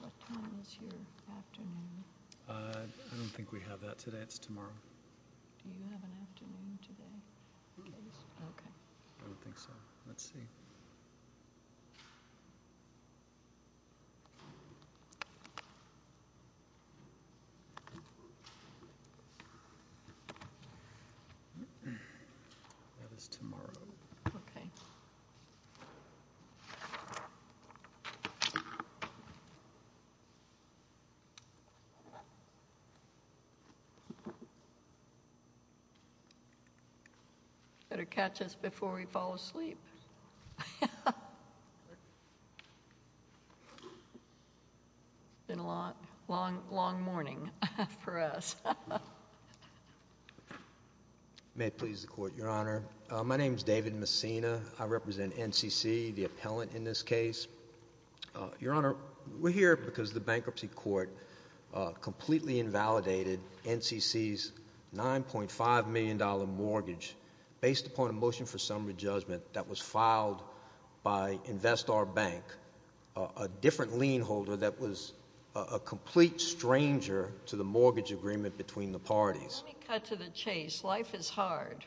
What time is your afternoon? I don't think we have that today. It's tomorrow. Do you have an afternoon today? I don't think so. Let's see. That is tomorrow. Okay. Better catch us before we fall asleep. It's been a long, long morning for us. May it please the Court, Your Honor. My name is David Messina. I represent NCC, the appellant in this case. Your Honor, we're here because the bankruptcy court completely invalidated NCC's $9.5 million mortgage based upon a motion for summary judgment that was filed by Investar Bank, a different lien holder that was a complete stranger to the mortgage agreement between the parties. Let me cut to the chase. Life is hard.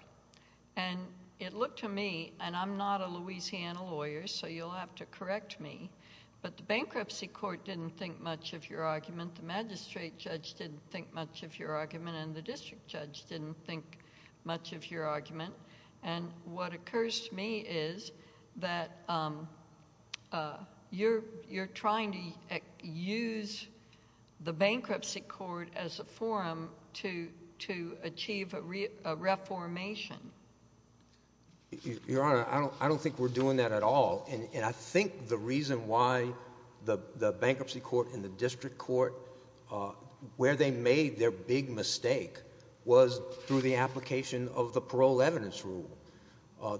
And it looked to me, and I'm not a Louisiana lawyer, so you'll have to correct me, but the bankruptcy court didn't think much of your argument. The magistrate judge didn't think much of your argument, and the district judge didn't think much of your argument. And what occurs to me is that you're trying to use the bankruptcy court as a forum to achieve a reformation. Your Honor, I don't think we're doing that at all. And I think the reason why the bankruptcy court and the district court, where they made their big mistake, was through the application of the parole evidence rule.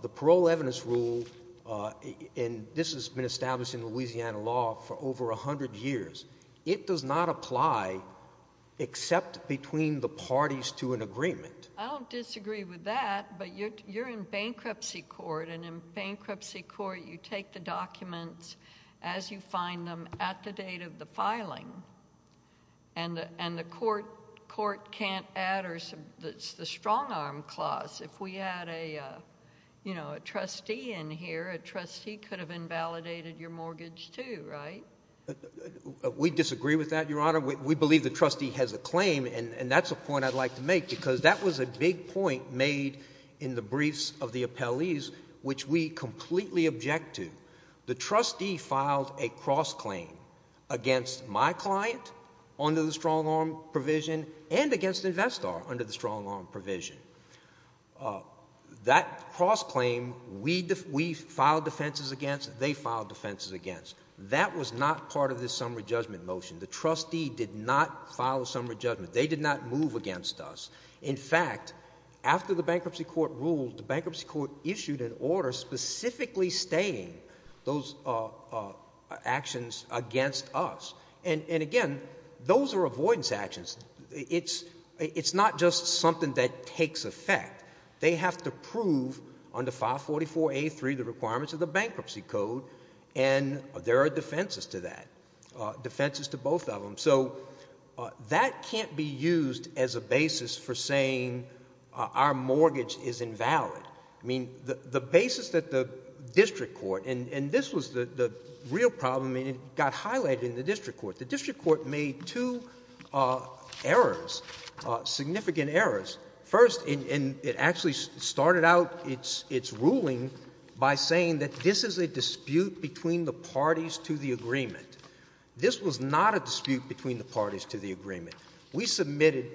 The parole evidence rule, and this has been established in Louisiana law for over 100 years, it does not apply except between the parties to an agreement. I don't disagree with that, but you're in bankruptcy court, and in bankruptcy court you take the documents as you find them at the date of the filing. And the court can't add the strong-arm clause. If we had a trustee in here, a trustee could have invalidated your mortgage too, right? We disagree with that, Your Honor. We believe the trustee has a claim, and that's a point I'd like to make, because that was a big point made in the briefs of the appellees, which we completely object to. The trustee filed a cross-claim against my client under the strong-arm provision and against Investar under the strong-arm provision. That cross-claim, we filed defenses against, they filed defenses against. That was not part of this summary judgment motion. The trustee did not file a summary judgment. They did not move against us. In fact, after the bankruptcy court ruled, the bankruptcy court issued an order specifically stating those actions against us. And, again, those are avoidance actions. It's not just something that takes effect. They have to prove under File 44A3 the requirements of the bankruptcy code, and there are defenses to that, defenses to both of them. So that can't be used as a basis for saying our mortgage is invalid. I mean, the basis that the district court, and this was the real problem, and it got highlighted in the district court. The district court made two errors, significant errors. First, and it actually started out its ruling by saying that this is a dispute between the parties to the agreement. This was not a dispute between the parties to the agreement. We submitted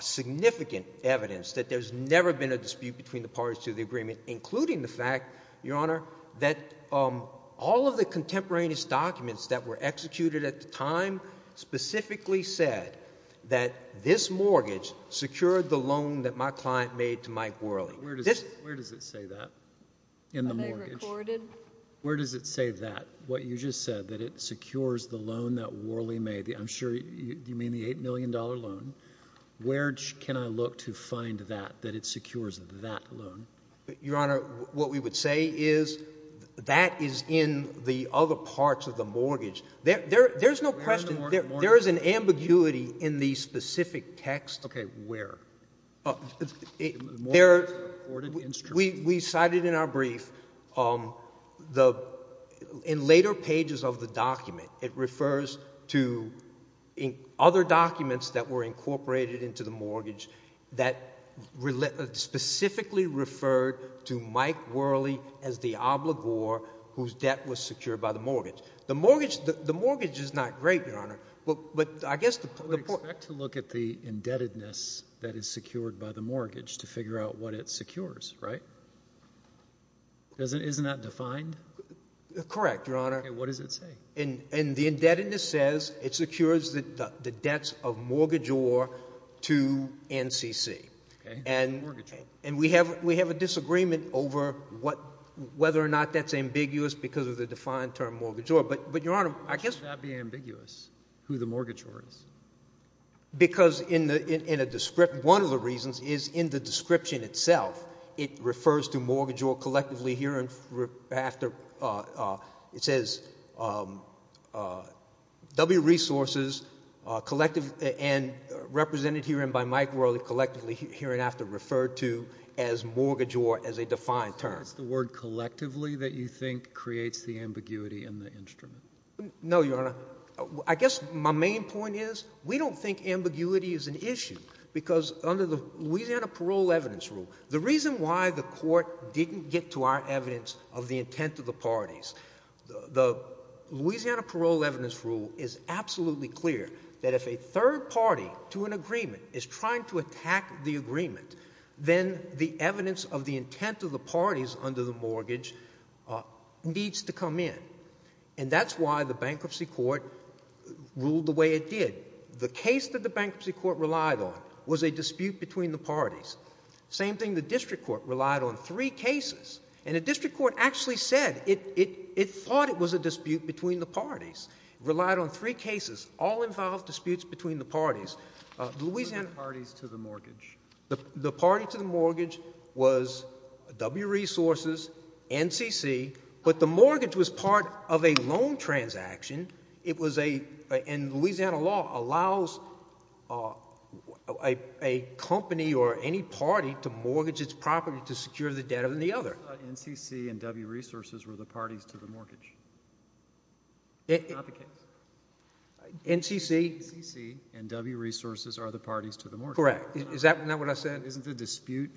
significant evidence that there's never been a dispute between the parties to the agreement, including the fact, Your Honor, that all of the contemporaneous documents that were executed at the time specifically said that this mortgage secured the loan that my client made to Mike Worley. Where does it say that? In the mortgage? Are they recorded? Where does it say that? What you just said, that it secures the loan that Worley made. I'm sure you mean the $8 million loan. Where can I look to find that, that it secures that loan? Your Honor, what we would say is that is in the other parts of the mortgage. There's no question. There is an ambiguity in the specific text. Where? We cited in our brief, in later pages of the document, it refers to other documents that were incorporated into the mortgage that specifically referred to Mike Worley as the obligor whose debt was secured by the mortgage. The mortgage is not great, Your Honor. I would expect to look at the indebtedness that is secured by the mortgage to figure out what it secures, right? Isn't that defined? Correct, Your Honor. What does it say? The indebtedness says it secures the debts of mortgagor to NCC. And we have a disagreement over whether or not that's ambiguous because of the defined term mortgagor. But, Your Honor, I guess. How can that be ambiguous, who the mortgagor is? Because in a description, one of the reasons is in the description itself, it refers to mortgagor collectively here and after. It says W resources collective and represented here and by Mike Worley collectively here and after referred to as mortgagor as a defined term. Is the word collectively that you think creates the ambiguity in the instrument? No, Your Honor. I guess my main point is we don't think ambiguity is an issue because under the Louisiana Parole Evidence Rule, the reason why the court didn't get to our evidence of the intent of the parties, the Louisiana Parole Evidence Rule is absolutely clear that if a third party to an agreement is trying to attack the agreement, then the evidence of the intent of the parties under the mortgage needs to come in. And that's why the bankruptcy court ruled the way it did. The case that the bankruptcy court relied on was a dispute between the parties. Same thing, the district court relied on three cases. And the district court actually said it thought it was a dispute between the parties. It relied on three cases, all involved disputes between the parties. The parties to the mortgage. The party to the mortgage was W Resources, NCC, but the mortgage was part of a loan transaction. It was a—and Louisiana law allows a company or any party to mortgage its property to secure the debt of the other. NCC and W Resources were the parties to the mortgage. Not the case. NCC NCC and W Resources are the parties to the mortgage. Correct. Is that what I said? Isn't the dispute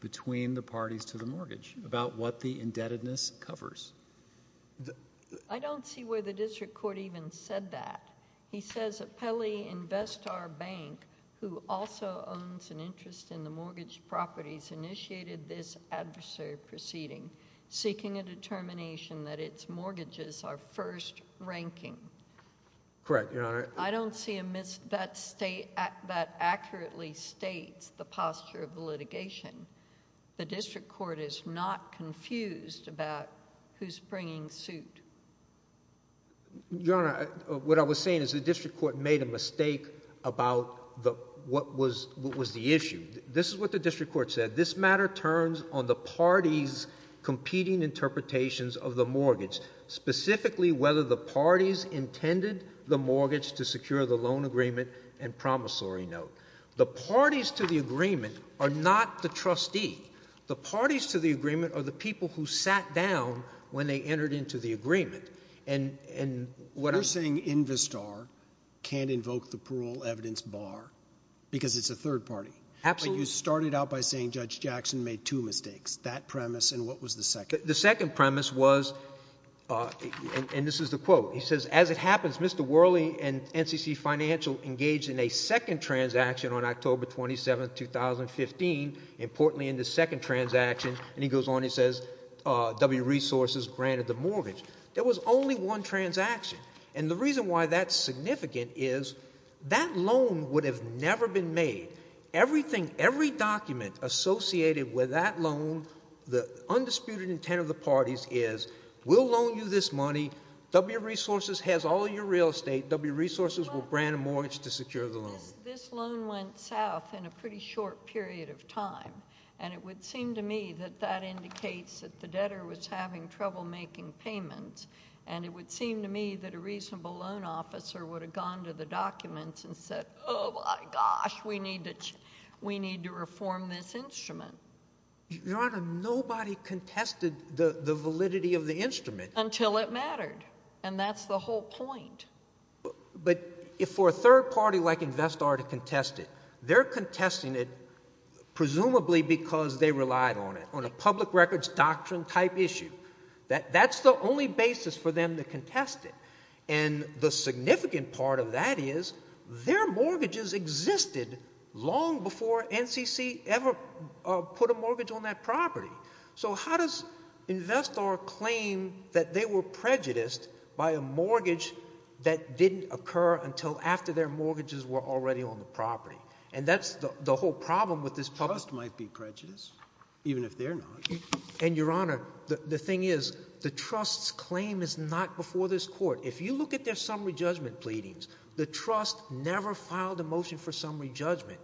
between the parties to the mortgage about what the indebtedness covers? I don't see where the district court even said that. He says, Apelli Investar Bank, who also owns an interest in the mortgage properties, initiated this adversary proceeding, seeking a determination that its mortgages are first ranking. Correct, Your Honor. I don't see a—that accurately states the posture of the litigation. The district court is not confused about who's bringing suit. Your Honor, what I was saying is the district court made a mistake about what was the issue. This is what the district court said. This matter turns on the parties' competing interpretations of the mortgage, specifically whether the parties intended the mortgage to secure the loan agreement and promissory note. The parties to the agreement are not the trustee. The parties to the agreement are the people who sat down when they entered into the agreement. And what I'm— You're saying Investar can't invoke the parole evidence bar because it's a third party. Absolutely. But you started out by saying Judge Jackson made two mistakes, that premise and what was the second. The second premise was—and this is the quote. He says, as it happens, Mr. Worley and NCC Financial engaged in a second transaction on October 27, 2015, importantly in the second transaction. And he goes on, he says, W Resources granted the mortgage. There was only one transaction. And the reason why that's significant is that loan would have never been made. Everything, every document associated with that loan, the undisputed intent of the parties is we'll loan you this money. W Resources has all your real estate. W Resources will grant a mortgage to secure the loan. This loan went south in a pretty short period of time. And it would seem to me that that indicates that the debtor was having trouble making payments. And it would seem to me that a reasonable loan officer would have gone to the documents and said, oh, my gosh, we need to reform this instrument. Your Honor, nobody contested the validity of the instrument. Until it mattered. And that's the whole point. But for a third party like Investar to contest it, they're contesting it presumably because they relied on it, on a public records doctrine type issue. That's the only basis for them to contest it. And the significant part of that is their mortgages existed long before NCC ever put a mortgage on that property. So how does Investar claim that they were prejudiced by a mortgage that didn't occur until after their mortgages were already on the property? And that's the whole problem with this public. Trust might be prejudiced, even if they're not. And, Your Honor, the thing is the trust's claim is not before this court. If you look at their summary judgment pleadings, the trust never filed a motion for summary judgment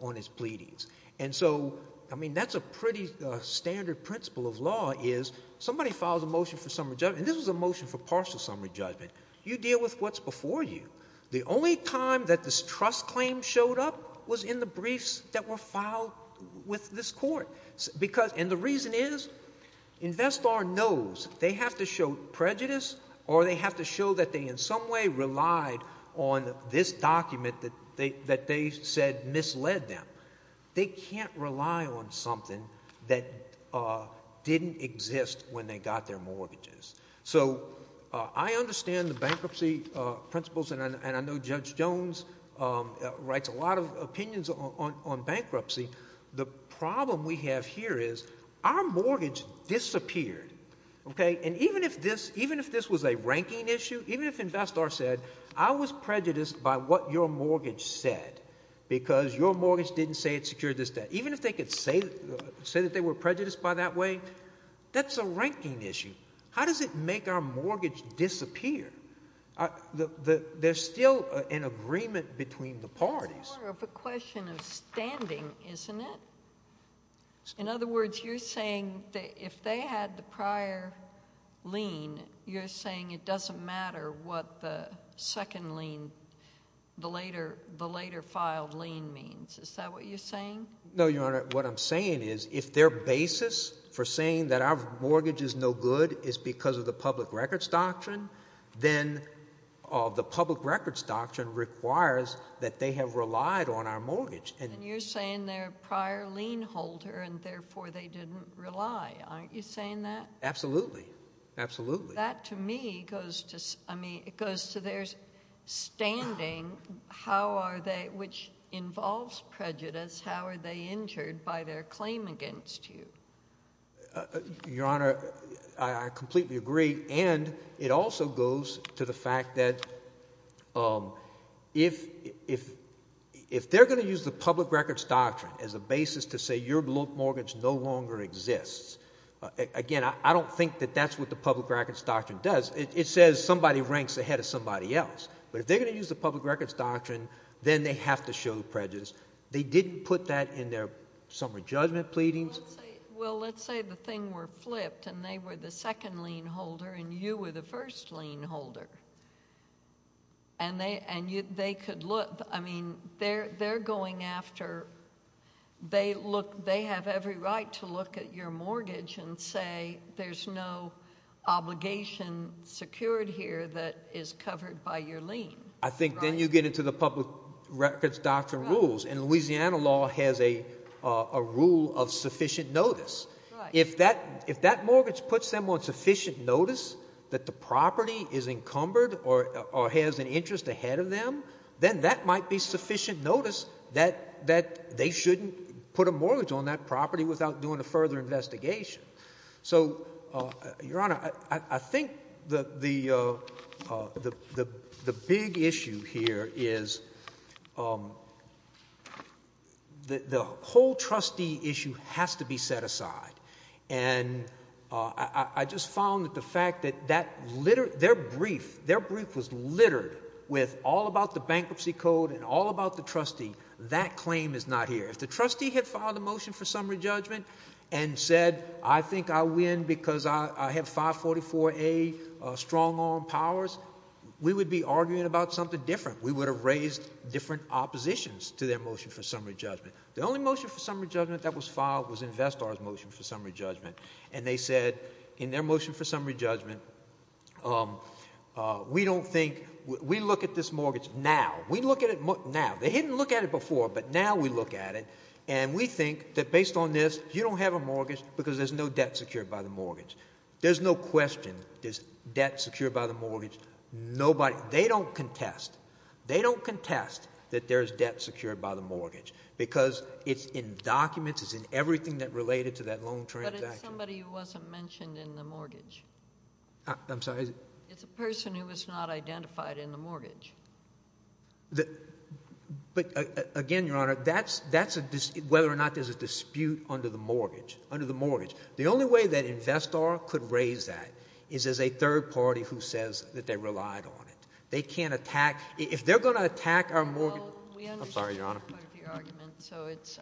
on its pleadings. And so, I mean, that's a pretty standard principle of law is somebody files a motion for summary judgment. And this was a motion for partial summary judgment. You deal with what's before you. The only time that this trust claim showed up was in the briefs that were filed with this court. And the reason is Investar knows they have to show prejudice or they have to show that they in some way relied on this document that they said misled them. They can't rely on something that didn't exist when they got their mortgages. So I understand the bankruptcy principles, and I know Judge Jones writes a lot of opinions on bankruptcy. The problem we have here is our mortgage disappeared, okay? And even if this was a ranking issue, even if Investar said I was prejudiced by what your mortgage said because your mortgage didn't say it secured this debt, even if they could say that they were prejudiced by that way, that's a ranking issue. How does it make our mortgage disappear? There's still an agreement between the parties. It's more of a question of standing, isn't it? In other words, you're saying that if they had the prior lien, you're saying it doesn't matter what the second lien, the later filed lien means. Is that what you're saying? No, Your Honor. What I'm saying is if their basis for saying that our mortgage is no good is because of the public records doctrine, then the public records doctrine requires that they have relied on our mortgage. And you're saying they're a prior lien holder and therefore they didn't rely. Aren't you saying that? Absolutely. Absolutely. That to me goes to their standing, which involves prejudice. How are they injured by their claim against you? Your Honor, I completely agree. And it also goes to the fact that if they're going to use the public records doctrine as a basis to say your mortgage no longer exists, again, I don't think that that's what the public records doctrine does. It says somebody ranks ahead of somebody else. But if they're going to use the public records doctrine, then they have to show prejudice. They didn't put that in their summer judgment pleadings. Well, let's say the thing were flipped and they were the second lien holder and you were the first lien holder. And they could look. I mean, they're going after they have every right to look at your mortgage and say there's no obligation secured here that is covered by your lien. I think then you get into the public records doctrine rules, and Louisiana law has a rule of sufficient notice. If that mortgage puts them on sufficient notice that the property is encumbered or has an interest ahead of them, then that might be sufficient notice that they shouldn't put a mortgage on that property without doing a further investigation. So, Your Honor, I think the big issue here is the whole trustee issue has to be set aside. And I just found that the fact that their brief was littered with all about the bankruptcy code and all about the trustee, that claim is not here. If the trustee had filed a motion for summary judgment and said I think I win because I have 544A strong arm powers, we would be arguing about something different. We would have raised different oppositions to their motion for summary judgment. The only motion for summary judgment that was filed was Investor's motion for summary judgment. And they said in their motion for summary judgment, we don't think, we look at this mortgage now. We look at it now. They didn't look at it before, but now we look at it. And we think that based on this, you don't have a mortgage because there's no debt secured by the mortgage. There's no question there's debt secured by the mortgage. Nobody, they don't contest. They don't contest that there's debt secured by the mortgage because it's in documents, it's in everything that related to that loan transaction. But it's somebody who wasn't mentioned in the mortgage. I'm sorry? It's a person who was not identified in the mortgage. But again, Your Honor, that's a, whether or not there's a dispute under the mortgage. The only way that Investor could raise that is as a third party who says that they relied on it. They can't attack, if they're going to attack our mortgage. I'm sorry, Your Honor. So it's,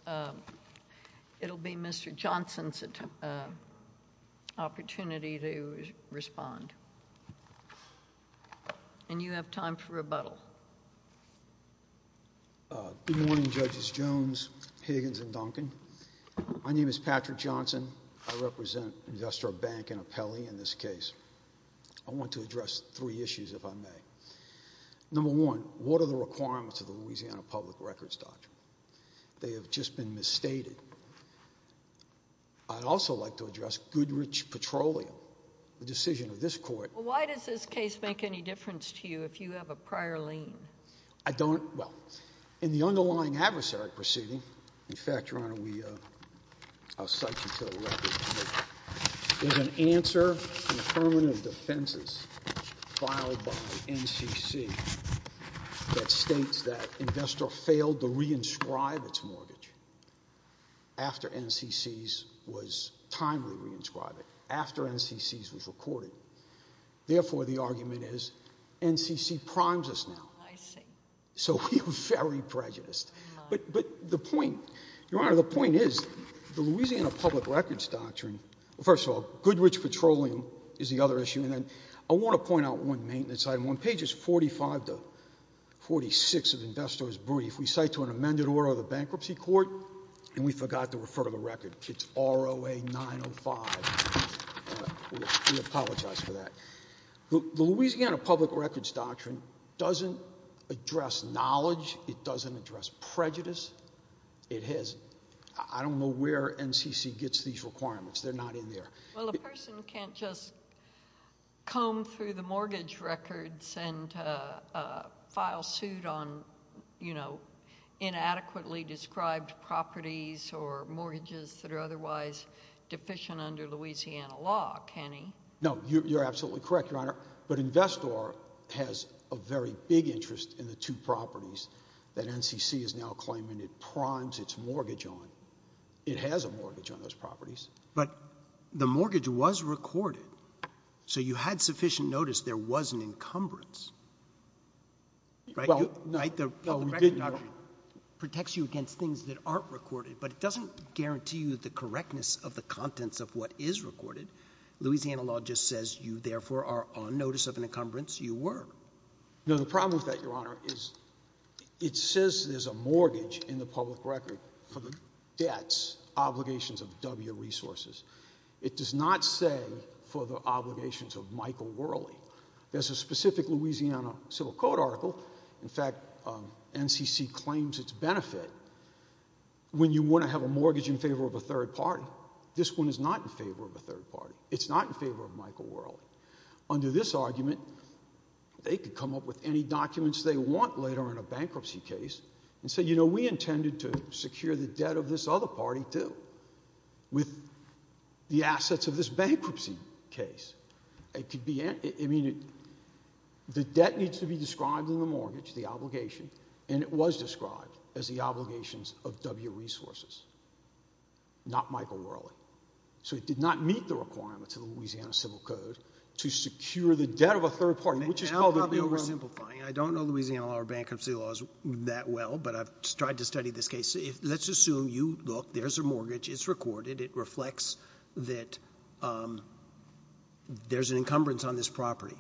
it'll be Mr. Johnson's opportunity to respond. And you have time for rebuttal. Good morning, Judges Jones, Higgins, and Duncan. My name is Patrick Johnson. I represent Investor Bank and Appelli in this case. I want to address three issues, if I may. Number one, what are the requirements of the Louisiana Public Records Doctrine? They have just been misstated. I'd also like to address Goodrich Petroleum, the decision of this court. Why does this case make any difference to you if you have a prior lien? I don't, well, in the underlying adversary proceeding, in fact, Your Honor, we, I'll cite you to the record. There's an answer in the permanent defenses filed by NCC that states that Investor failed to re-inscribe its mortgage. After NCC's was timely re-inscribed it. After NCC's was recorded. Therefore, the argument is NCC primes us now. I see. So we are very prejudiced. But the point, Your Honor, the point is the Louisiana Public Records Doctrine, first of all, Goodrich Petroleum is the other issue. And then I want to point out one maintenance item. On pages 45 to 46 of Investor's brief, we cite to an amended order of the bankruptcy court and we forgot to refer to the record. It's ROA 905. We apologize for that. The Louisiana Public Records Doctrine doesn't address knowledge. It doesn't address prejudice. It has, I don't know where NCC gets these requirements. They're not in there. Well, a person can't just comb through the mortgage records and file suit on, you know, inadequately described properties or mortgages that are otherwise deficient under Louisiana law, can he? No, you're absolutely correct, Your Honor. But Investor has a very big interest in the two properties that NCC is now claiming it primes its mortgage on. It has a mortgage on those properties. But the mortgage was recorded. So you had sufficient notice there was an encumbrance, right? Well, no. The records protects you against things that aren't recorded, but it doesn't guarantee you the correctness of the contents of what is recorded. Louisiana law just says you, therefore, are on notice of an encumbrance. You were. No, the problem with that, Your Honor, is it says there's a mortgage in the public record for the debts, obligations of W resources. It does not say for the obligations of Michael Worley. There's a specific Louisiana Civil Code article. In fact, NCC claims its benefit when you want to have a mortgage in favor of a third party. This one is not in favor of a third party. It's not in favor of Michael Worley. Under this argument, they could come up with any documents they want later in a bankruptcy case and say, you know, we intended to secure the debt of this other party, too, with the assets of this bankruptcy case. I mean, the debt needs to be described in the mortgage, the obligation, and it was described as the obligations of W resources, not Michael Worley. So it did not meet the requirements of the Louisiana Civil Code to secure the debt of a third party, which is probably oversimplifying. I don't know Louisiana law or bankruptcy laws that well, but I've tried to study this case. Let's assume you look, there's a mortgage. It's recorded. It reflects that there's an encumbrance on this property.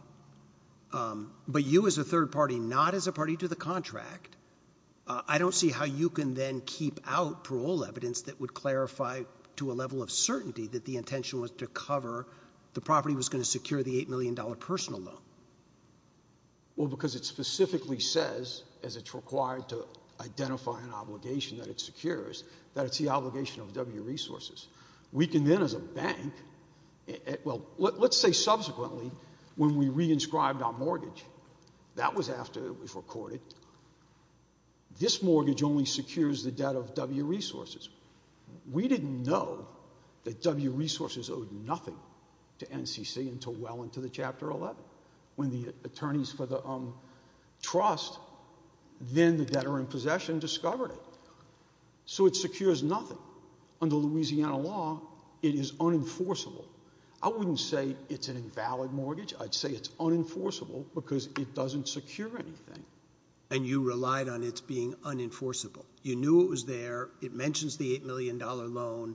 But you as a third party, not as a party to the contract, I don't see how you can then keep out parole evidence that would clarify to a level of certainty that the intention was to cover the property was going to secure the $8 million personal loan. Well, because it specifically says, as it's required to identify an obligation that it secures, that it's the obligation of W resources. We can then as a bank, well, let's say subsequently when we re-inscribed our mortgage, that was after it was recorded. This mortgage only secures the debt of W resources. We didn't know that W resources owed nothing to NCC until well into the chapter 11 when the attorneys for the trust, then the debtor in possession, discovered it. So it secures nothing. Under Louisiana law, it is unenforceable. I wouldn't say it's an invalid mortgage. I'd say it's unenforceable because it doesn't secure anything. And you relied on its being unenforceable. You knew it was there. It mentions the $8 million loan,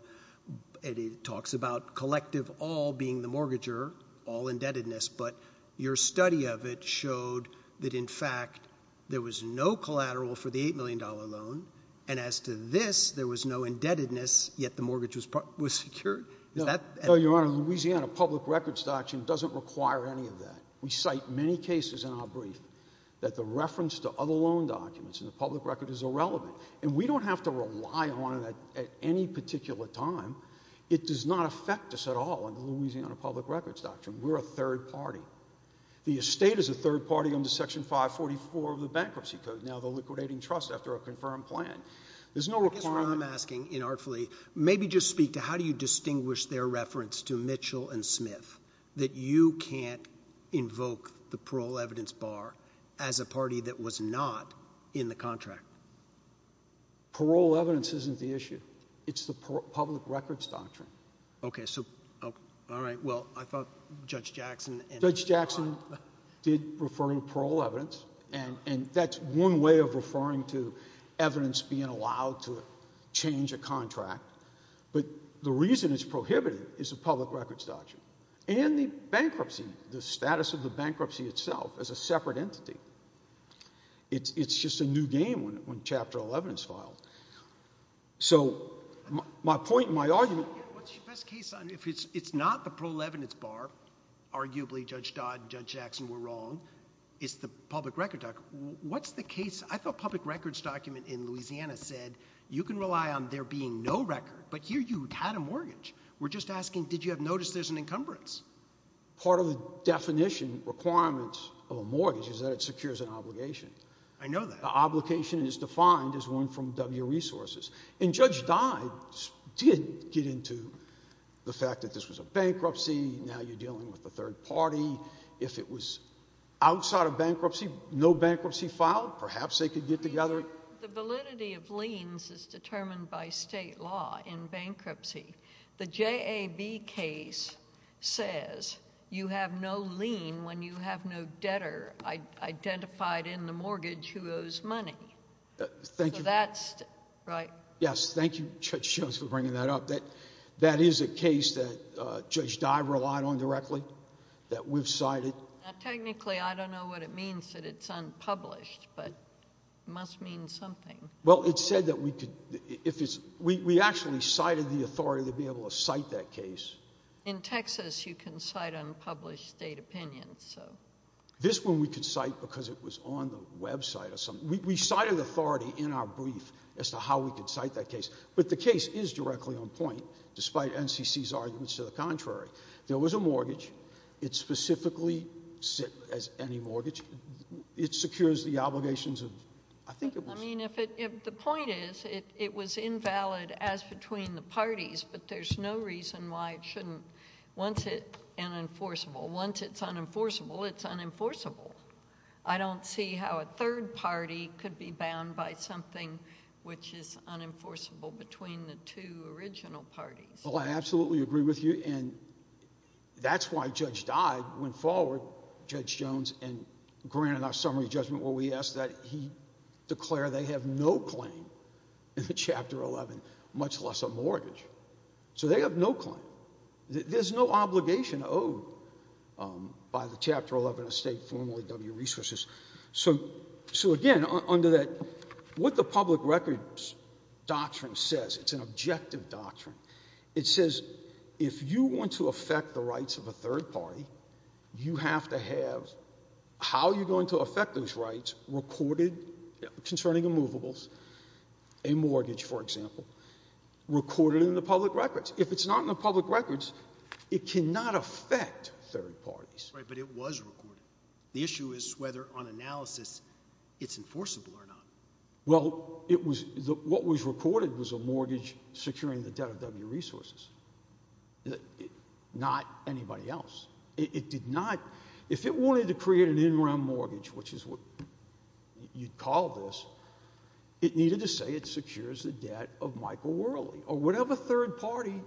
and it talks about collective all being the mortgager, all indebtedness. But your study of it showed that, in fact, there was no collateral for the $8 million loan. And as to this, there was no indebtedness, yet the mortgage was secured. Your Honor, Louisiana public records doctrine doesn't require any of that. We cite many cases in our brief that the reference to other loan documents in the public record is irrelevant. And we don't have to rely on it at any particular time. It does not affect us at all under Louisiana public records doctrine. We're a third party. The estate is a third party under Section 544 of the Bankruptcy Code, now the liquidating trust after a confirmed plan. There's no requirement. Maybe just speak to how do you distinguish their reference to Mitchell and Smith, that you can't invoke the parole evidence bar as a party that was not in the contract? Parole evidence isn't the issue. It's the public records doctrine. Okay. So, all right. Well, I thought Judge Jackson. Judge Jackson did refer to parole evidence. And that's one way of referring to evidence being allowed to change a contract. But the reason it's prohibited is the public records doctrine. And the bankruptcy, the status of the bankruptcy itself as a separate entity. It's just a new game when Chapter 11 is filed. So, my point, my argument. What's your best case? It's not the parole evidence bar. Arguably, Judge Dodd and Judge Jackson were wrong. It's the public records doctrine. What's the case? I thought public records document in Louisiana said you can rely on there being no record. But here you had a mortgage. We're just asking did you have notice there's an encumbrance? Part of the definition requirements of a mortgage is that it secures an obligation. I know that. The obligation is defined as one from W resources. And Judge Dodd did get into the fact that this was a bankruptcy. Now you're dealing with a third party. If it was outside of bankruptcy, no bankruptcy filed, perhaps they could get together. The validity of liens is determined by state law in bankruptcy. The JAB case says you have no lien when you have no debtor identified in the mortgage who owes money. So that's right. Yes. Thank you, Judge Jones, for bringing that up. That is a case that Judge Dodd relied on directly, that we've cited. Technically, I don't know what it means that it's unpublished, but it must mean something. Well, it said that we could – we actually cited the authority to be able to cite that case. In Texas, you can cite unpublished state opinions. This one we could cite because it was on the website or something. We cited authority in our brief as to how we could cite that case. But the case is directly on point, despite NCC's arguments to the contrary. There was a mortgage. It's specifically set as any mortgage. It secures the obligations of – I think it was. I mean, if the point is it was invalid as between the parties, but there's no reason why it shouldn't. Once it's unenforceable, it's unenforceable. I don't see how a third party could be bound by something which is unenforceable between the two original parties. Well, I absolutely agree with you, and that's why Judge Dodd went forward, Judge Jones, and granted our summary judgment where we asked that he declare they have no claim in Chapter 11, much less a mortgage. So they have no claim. There's no obligation owed by the Chapter 11 estate formerly W Resources. So, again, under that – what the public records doctrine says, it's an objective doctrine. It says if you want to affect the rights of a third party, you have to have how you're going to affect those rights recorded concerning immovables, a mortgage, for example, recorded in the public records. If it's not in the public records, it cannot affect third parties. Right, but it was recorded. The issue is whether on analysis it's enforceable or not. Well, it was – what was recorded was a mortgage securing the debt of W Resources, not anybody else. It did not – if it wanted to create an in-rem mortgage, which is what you'd call this, it needed to say it secures the debt of Michael Worley or whatever third party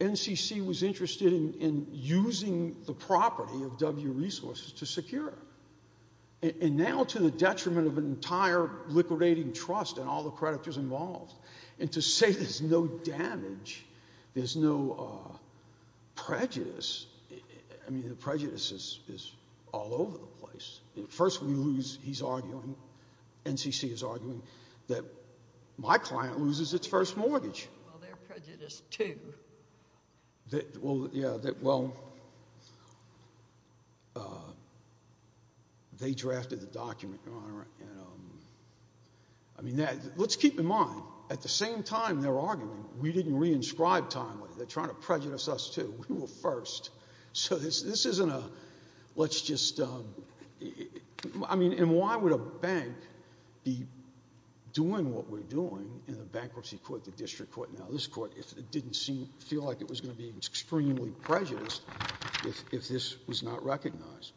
NCC was interested in using the property of W Resources to secure. And now to the detriment of an entire liquidating trust and all the creditors involved, and to say there's no damage, there's no prejudice, I mean the prejudice is all over the place. First we lose – he's arguing, NCC is arguing that my client loses its first mortgage. Well, they're prejudiced too. Well, yeah, well, they drafted the document, Your Honor. I mean, let's keep in mind at the same time they're arguing, we didn't re-inscribe timely. They're trying to prejudice us too. We were first. So this isn't a – let's just – I mean, and why would a bank be doing what we're doing in a bankruptcy court, the district court, now this court didn't seem – feel like it was going to be extremely prejudiced if this was not recognized.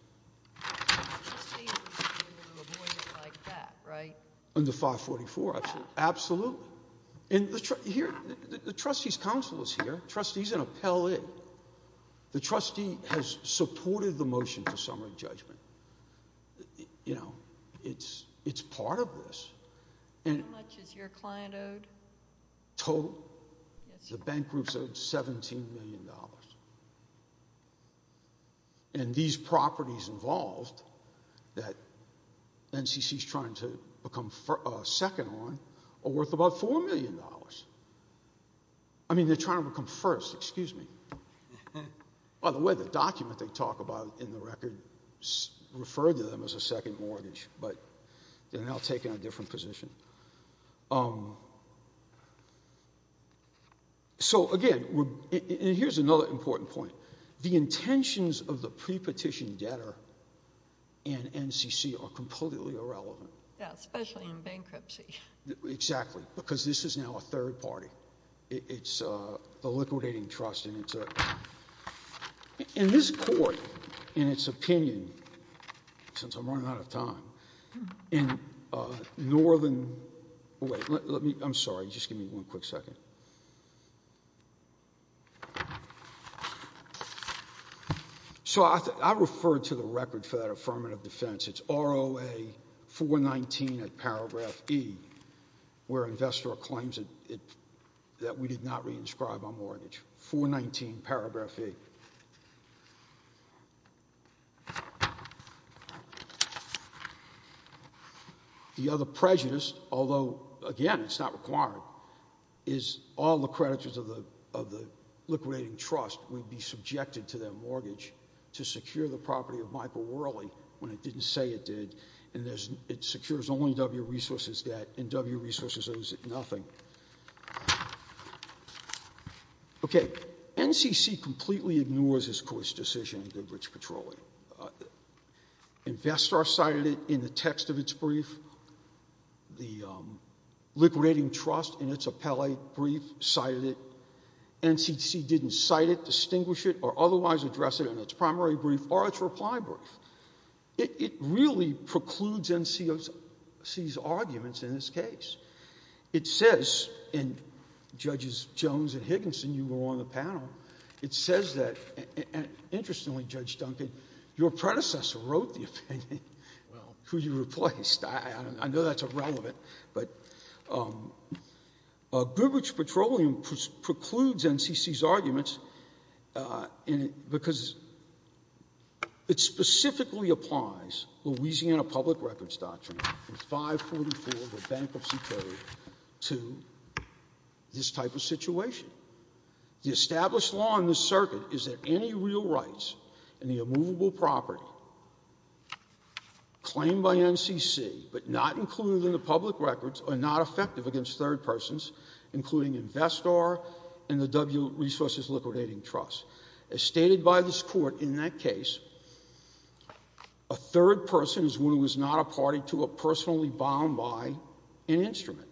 Under 544, absolutely. And the trustee's counsel is here. The trustee's an appellee. The trustee has supported the motion for summary judgment. You know, it's part of this. How much is your client owed? Total? Yes. The bank group's owed $17 million. And these properties involved that NCC's trying to become second on are worth about $4 million. I mean, they're trying to become first. Excuse me. By the way, the document they talk about in the record referred to them as a second mortgage, but they're now taking a different position. So, again, and here's another important point. The intentions of the pre-petition debtor and NCC are completely irrelevant. Yeah, especially in bankruptcy. Exactly, because this is now a third party. It's the liquidating trust, and it's a – and this court, in its opinion, since I'm running out of time, in northern – wait, let me – I'm sorry. Just give me one quick second. So I referred to the record for that affirmative defense. It's ROA 419 at paragraph E, where investor claims that we did not re-inscribe our mortgage. 419, paragraph E. The other prejudice, although, again, it's not required, is all the creditors of the liquidating trust would be subjected to their mortgage to secure the property of Michael Worley when it didn't say it did. And it secures only W resources debt, and W resources owes it nothing. Okay. NCC completely ignores this court's decision in Goodrich Petroleum. Investor cited it in the text of its brief. The liquidating trust in its appellate brief cited it. NCC didn't cite it, distinguish it, or otherwise address it in its primary brief or its reply brief. It really precludes NCC's arguments in this case. It says, and Judges Jones and Higginson, you were on the panel, it says that – and interestingly, Judge Duncan, your predecessor wrote the opinion. Well. Who you replaced. I know that's irrelevant. But Goodrich Petroleum precludes NCC's arguments because it specifically applies Louisiana public records doctrine in 544 of the Bankruptcy Code to this type of situation. The established law in this circuit is that any real rights in the immovable property claimed by NCC, but not included in the public records, are not effective against third persons, including Investor and the W resources liquidating trust. As stated by this court in that case, a third person is one who is not a party to or personally bound by an instrument,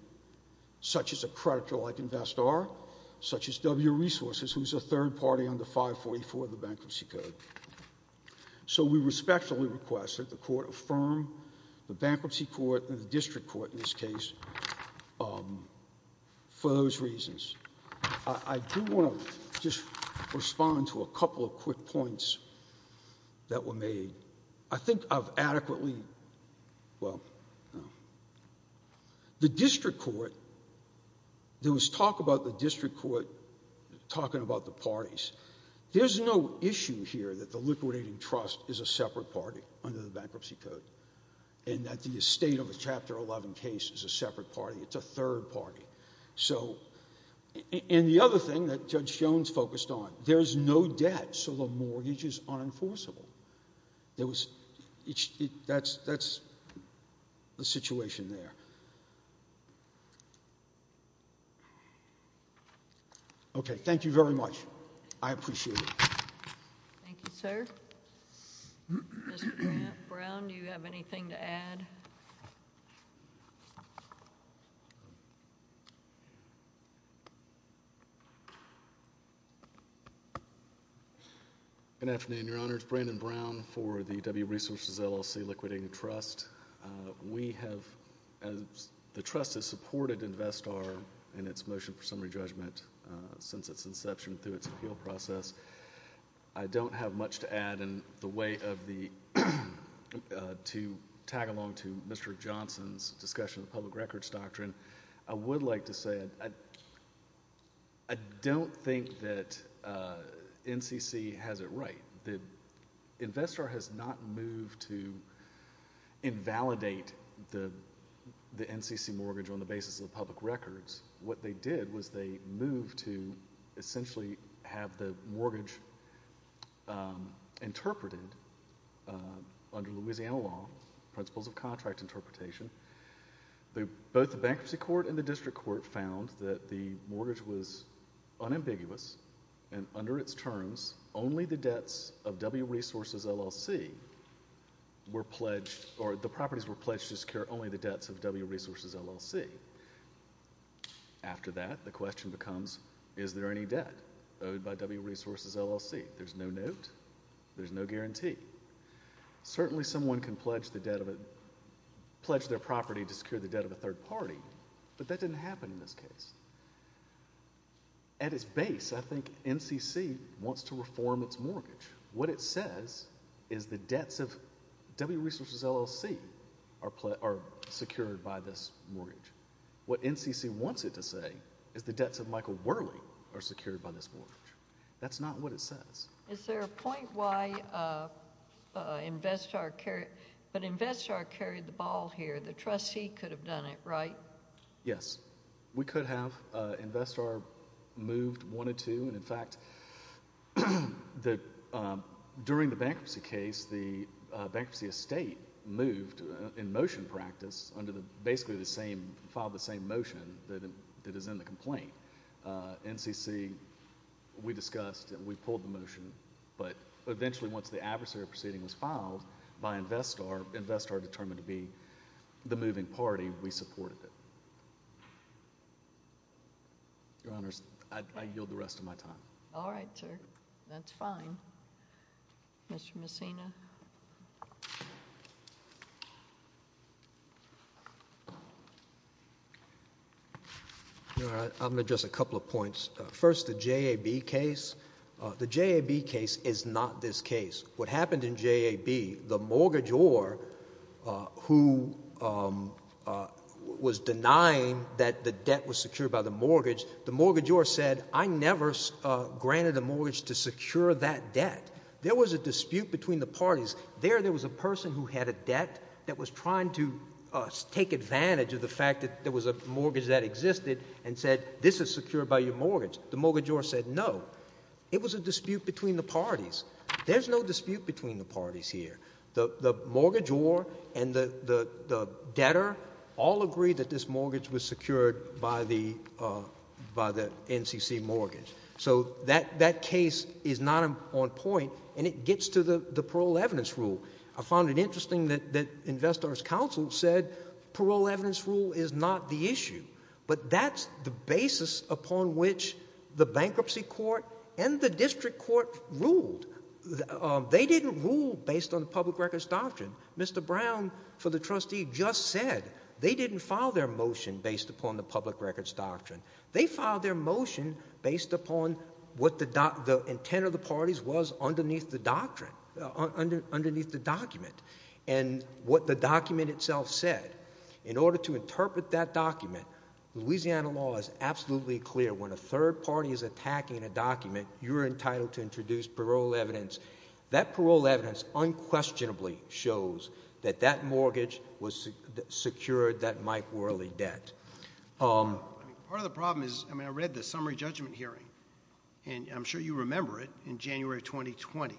such as a predator like Investor, such as W resources, who is a third party under 544 of the Bankruptcy Code. So we respectfully request that the court affirm the Bankruptcy Court and the District Court in this case for those reasons. I do want to just respond to a couple of quick points that were made. I think I've adequately, well, the District Court, there was talk about the District Court talking about the parties. There's no issue here that the liquidating trust is a separate party under the Bankruptcy Code and that the estate of a Chapter 11 case is a separate party. It's a third party. And the other thing that Judge Jones focused on, there's no debt, so the mortgages are enforceable. That's the situation there. Okay. Thank you very much. I appreciate it. Thank you, sir. Mr. Brown, do you have anything to add? No. Good afternoon, Your Honors. Brandon Brown for the W Resources LLC Liquidating Trust. We have, the trust has supported Investor in its motion for summary judgment since its inception through its appeal process. I don't have much to add in the way of the, to tag along to Mr. Johnson's discussion of public records doctrine. I would like to say I don't think that NCC has it right. The investor has not moved to invalidate the NCC mortgage on the basis of the public records. What they did was they moved to essentially have the mortgage interpreted under Louisiana law, principles of contract interpretation. Both the Bankruptcy Court and the District Court found that the mortgage was unambiguous and under its terms, only the debts of W Resources LLC were pledged, or the properties were pledged to secure only the debts of W Resources LLC. After that, the question becomes, is there any debt owed by W Resources LLC? There's no note. There's no guarantee. Certainly someone can pledge their property to secure the debt of a third party, but that didn't happen in this case. At its base, I think NCC wants to reform its mortgage. What it says is the debts of W Resources LLC are secured by this mortgage. What NCC wants it to say is the debts of Michael Worley are secured by this mortgage. That's not what it says. Is there a point why Investar carried, but Investar carried the ball here. The trustee could have done it, right? Yes. We could have. Investar moved one or two, and in fact, during the bankruptcy case, the bankruptcy estate moved in motion practice under basically the same, filed the same motion that is in the complaint. NCC, we discussed and we pulled the motion, but eventually once the adversary proceeding was filed by Investar, Investar determined to be the moving party, we supported it. Your Honors, I yield the rest of my time. All right, sir. That's fine. Mr. Messina. I'm going to address a couple of points. First, the JAB case. The JAB case is not this case. What happened in JAB, the mortgagor who was denying that the debt was secured by the mortgage, the mortgagor said, I never granted a mortgage to secure that debt. There was a dispute between the parties. There, there was a person who had a debt that was trying to take advantage of the fact that there was a mortgage that existed and said this is secured by your mortgage. The mortgagor said no. It was a dispute between the parties. There's no dispute between the parties here. The mortgagor and the debtor all agreed that this mortgage was secured by the NCC mortgage. So that case is not on point and it gets to the parole evidence rule. I found it interesting that Investor's Counsel said parole evidence rule is not the issue, but that's the basis upon which the bankruptcy court and the district court ruled. They didn't rule based on the public records doctrine. Mr. Brown, for the trustee, just said they didn't file their motion based upon the public records doctrine. They filed their motion based upon what the intent of the parties was underneath the doctrine, underneath the document, and what the document itself said. In order to interpret that document, Louisiana law is absolutely clear. When a third party is attacking a document, you're entitled to introduce parole evidence. That parole evidence unquestionably shows that that mortgage secured that Mike Worley debt. Part of the problem is, I mean, I read the summary judgment hearing, and I'm sure you remember it, in January 2020.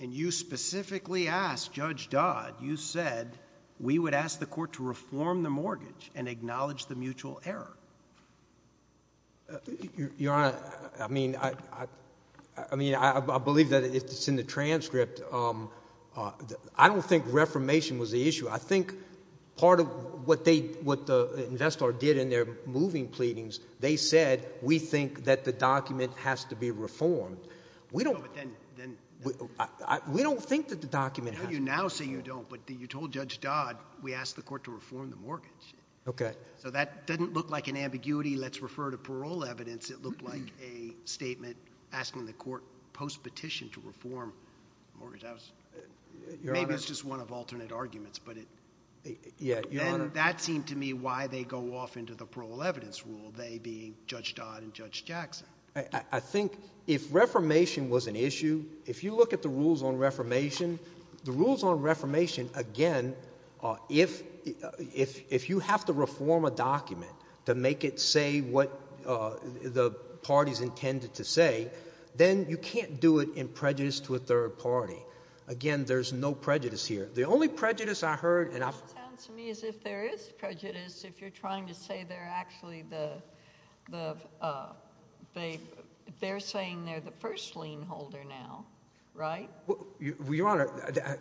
And you specifically asked Judge Dodd, you said, we would ask the court to reform the mortgage and acknowledge the mutual error. Your Honor, I mean, I believe that it's in the transcript. I don't think reformation was the issue. I think part of what the investor did in their moving pleadings, they said, we think that the document has to be reformed. We don't think that the document has to be reformed. You now say you don't. But you told Judge Dodd, we asked the court to reform the mortgage. Okay. So that doesn't look like an ambiguity. Let's refer to parole evidence. It looked like a statement asking the court post-petition to reform the mortgage. Maybe it's just one of alternate arguments. But then that seemed to me why they go off into the parole evidence rule, they being Judge Dodd and Judge Jackson. I think if reformation was an issue, if you look at the rules on reformation, the rules on reformation, again, if you have to reform a document to make it say what the parties intended to say, then you can't do it in prejudice to a third party. Again, there's no prejudice here. The only prejudice I heard and I've heard. My sense to me is if there is prejudice, if you're trying to say they're actually the, they're saying they're the first lien holder now, right? Your Honor,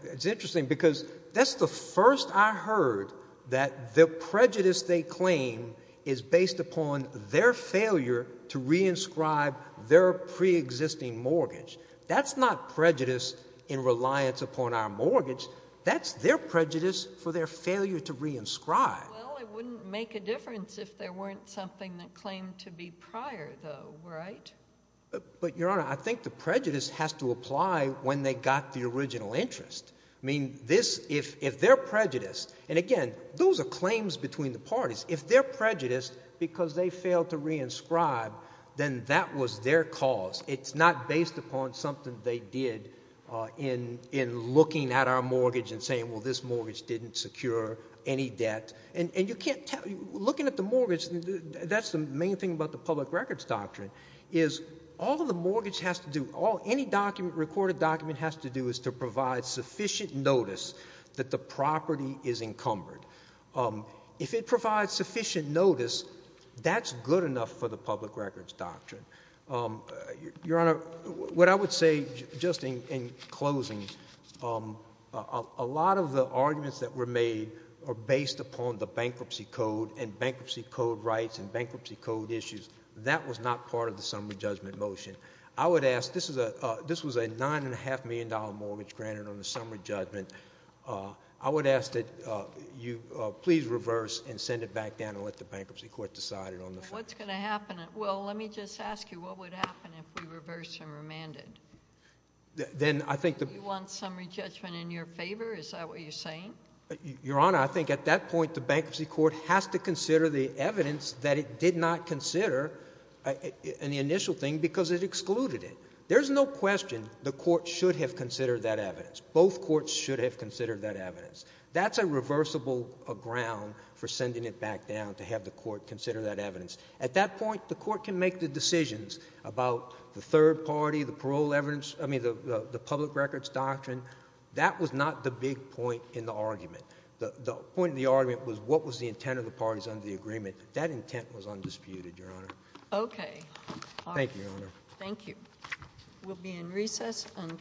it's interesting because that's the first I heard that the prejudice they claim is based upon their failure to re-inscribe their pre-existing mortgage. That's not prejudice in reliance upon our mortgage. That's their prejudice for their failure to re-inscribe. Well, it wouldn't make a difference if there weren't something that claimed to be prior, though, right? But, Your Honor, I think the prejudice has to apply when they got the original interest. I mean, this, if they're prejudiced, and again, those are claims between the parties. If they're prejudiced because they failed to re-inscribe, then that was their cause. It's not based upon something they did in looking at our mortgage and saying, well, this mortgage didn't secure any debt. And you can't tell, looking at the mortgage, that's the main thing about the public records doctrine is all of the mortgage has to do, any document, recorded document has to do is to provide sufficient notice that the property is encumbered. If it provides sufficient notice, that's good enough for the public records doctrine. Your Honor, what I would say, just in closing, a lot of the arguments that were made are based upon the bankruptcy code and bankruptcy code rights and bankruptcy code issues. That was not part of the summary judgment motion. I would ask, this was a $9.5 million mortgage granted on the summary judgment. I would ask that you please reverse and send it back down and let the bankruptcy court decide it on the floor. What's going to happen? Well, let me just ask you, what would happen if we reversed and remanded? Then I think the— Do you want summary judgment in your favor? Is that what you're saying? Your Honor, I think at that point the bankruptcy court has to consider the evidence that it did not consider in the initial thing because it excluded it. There's no question the court should have considered that evidence. Both courts should have considered that evidence. That's a reversible ground for sending it back down to have the court consider that evidence. At that point, the court can make the decisions about the third party, the parole evidence—I mean, the public records doctrine. That was not the big point in the argument. The point of the argument was what was the intent of the parties under the agreement. That intent was undisputed, Your Honor. Okay. Thank you, Your Honor. Thank you. We'll be in recess until—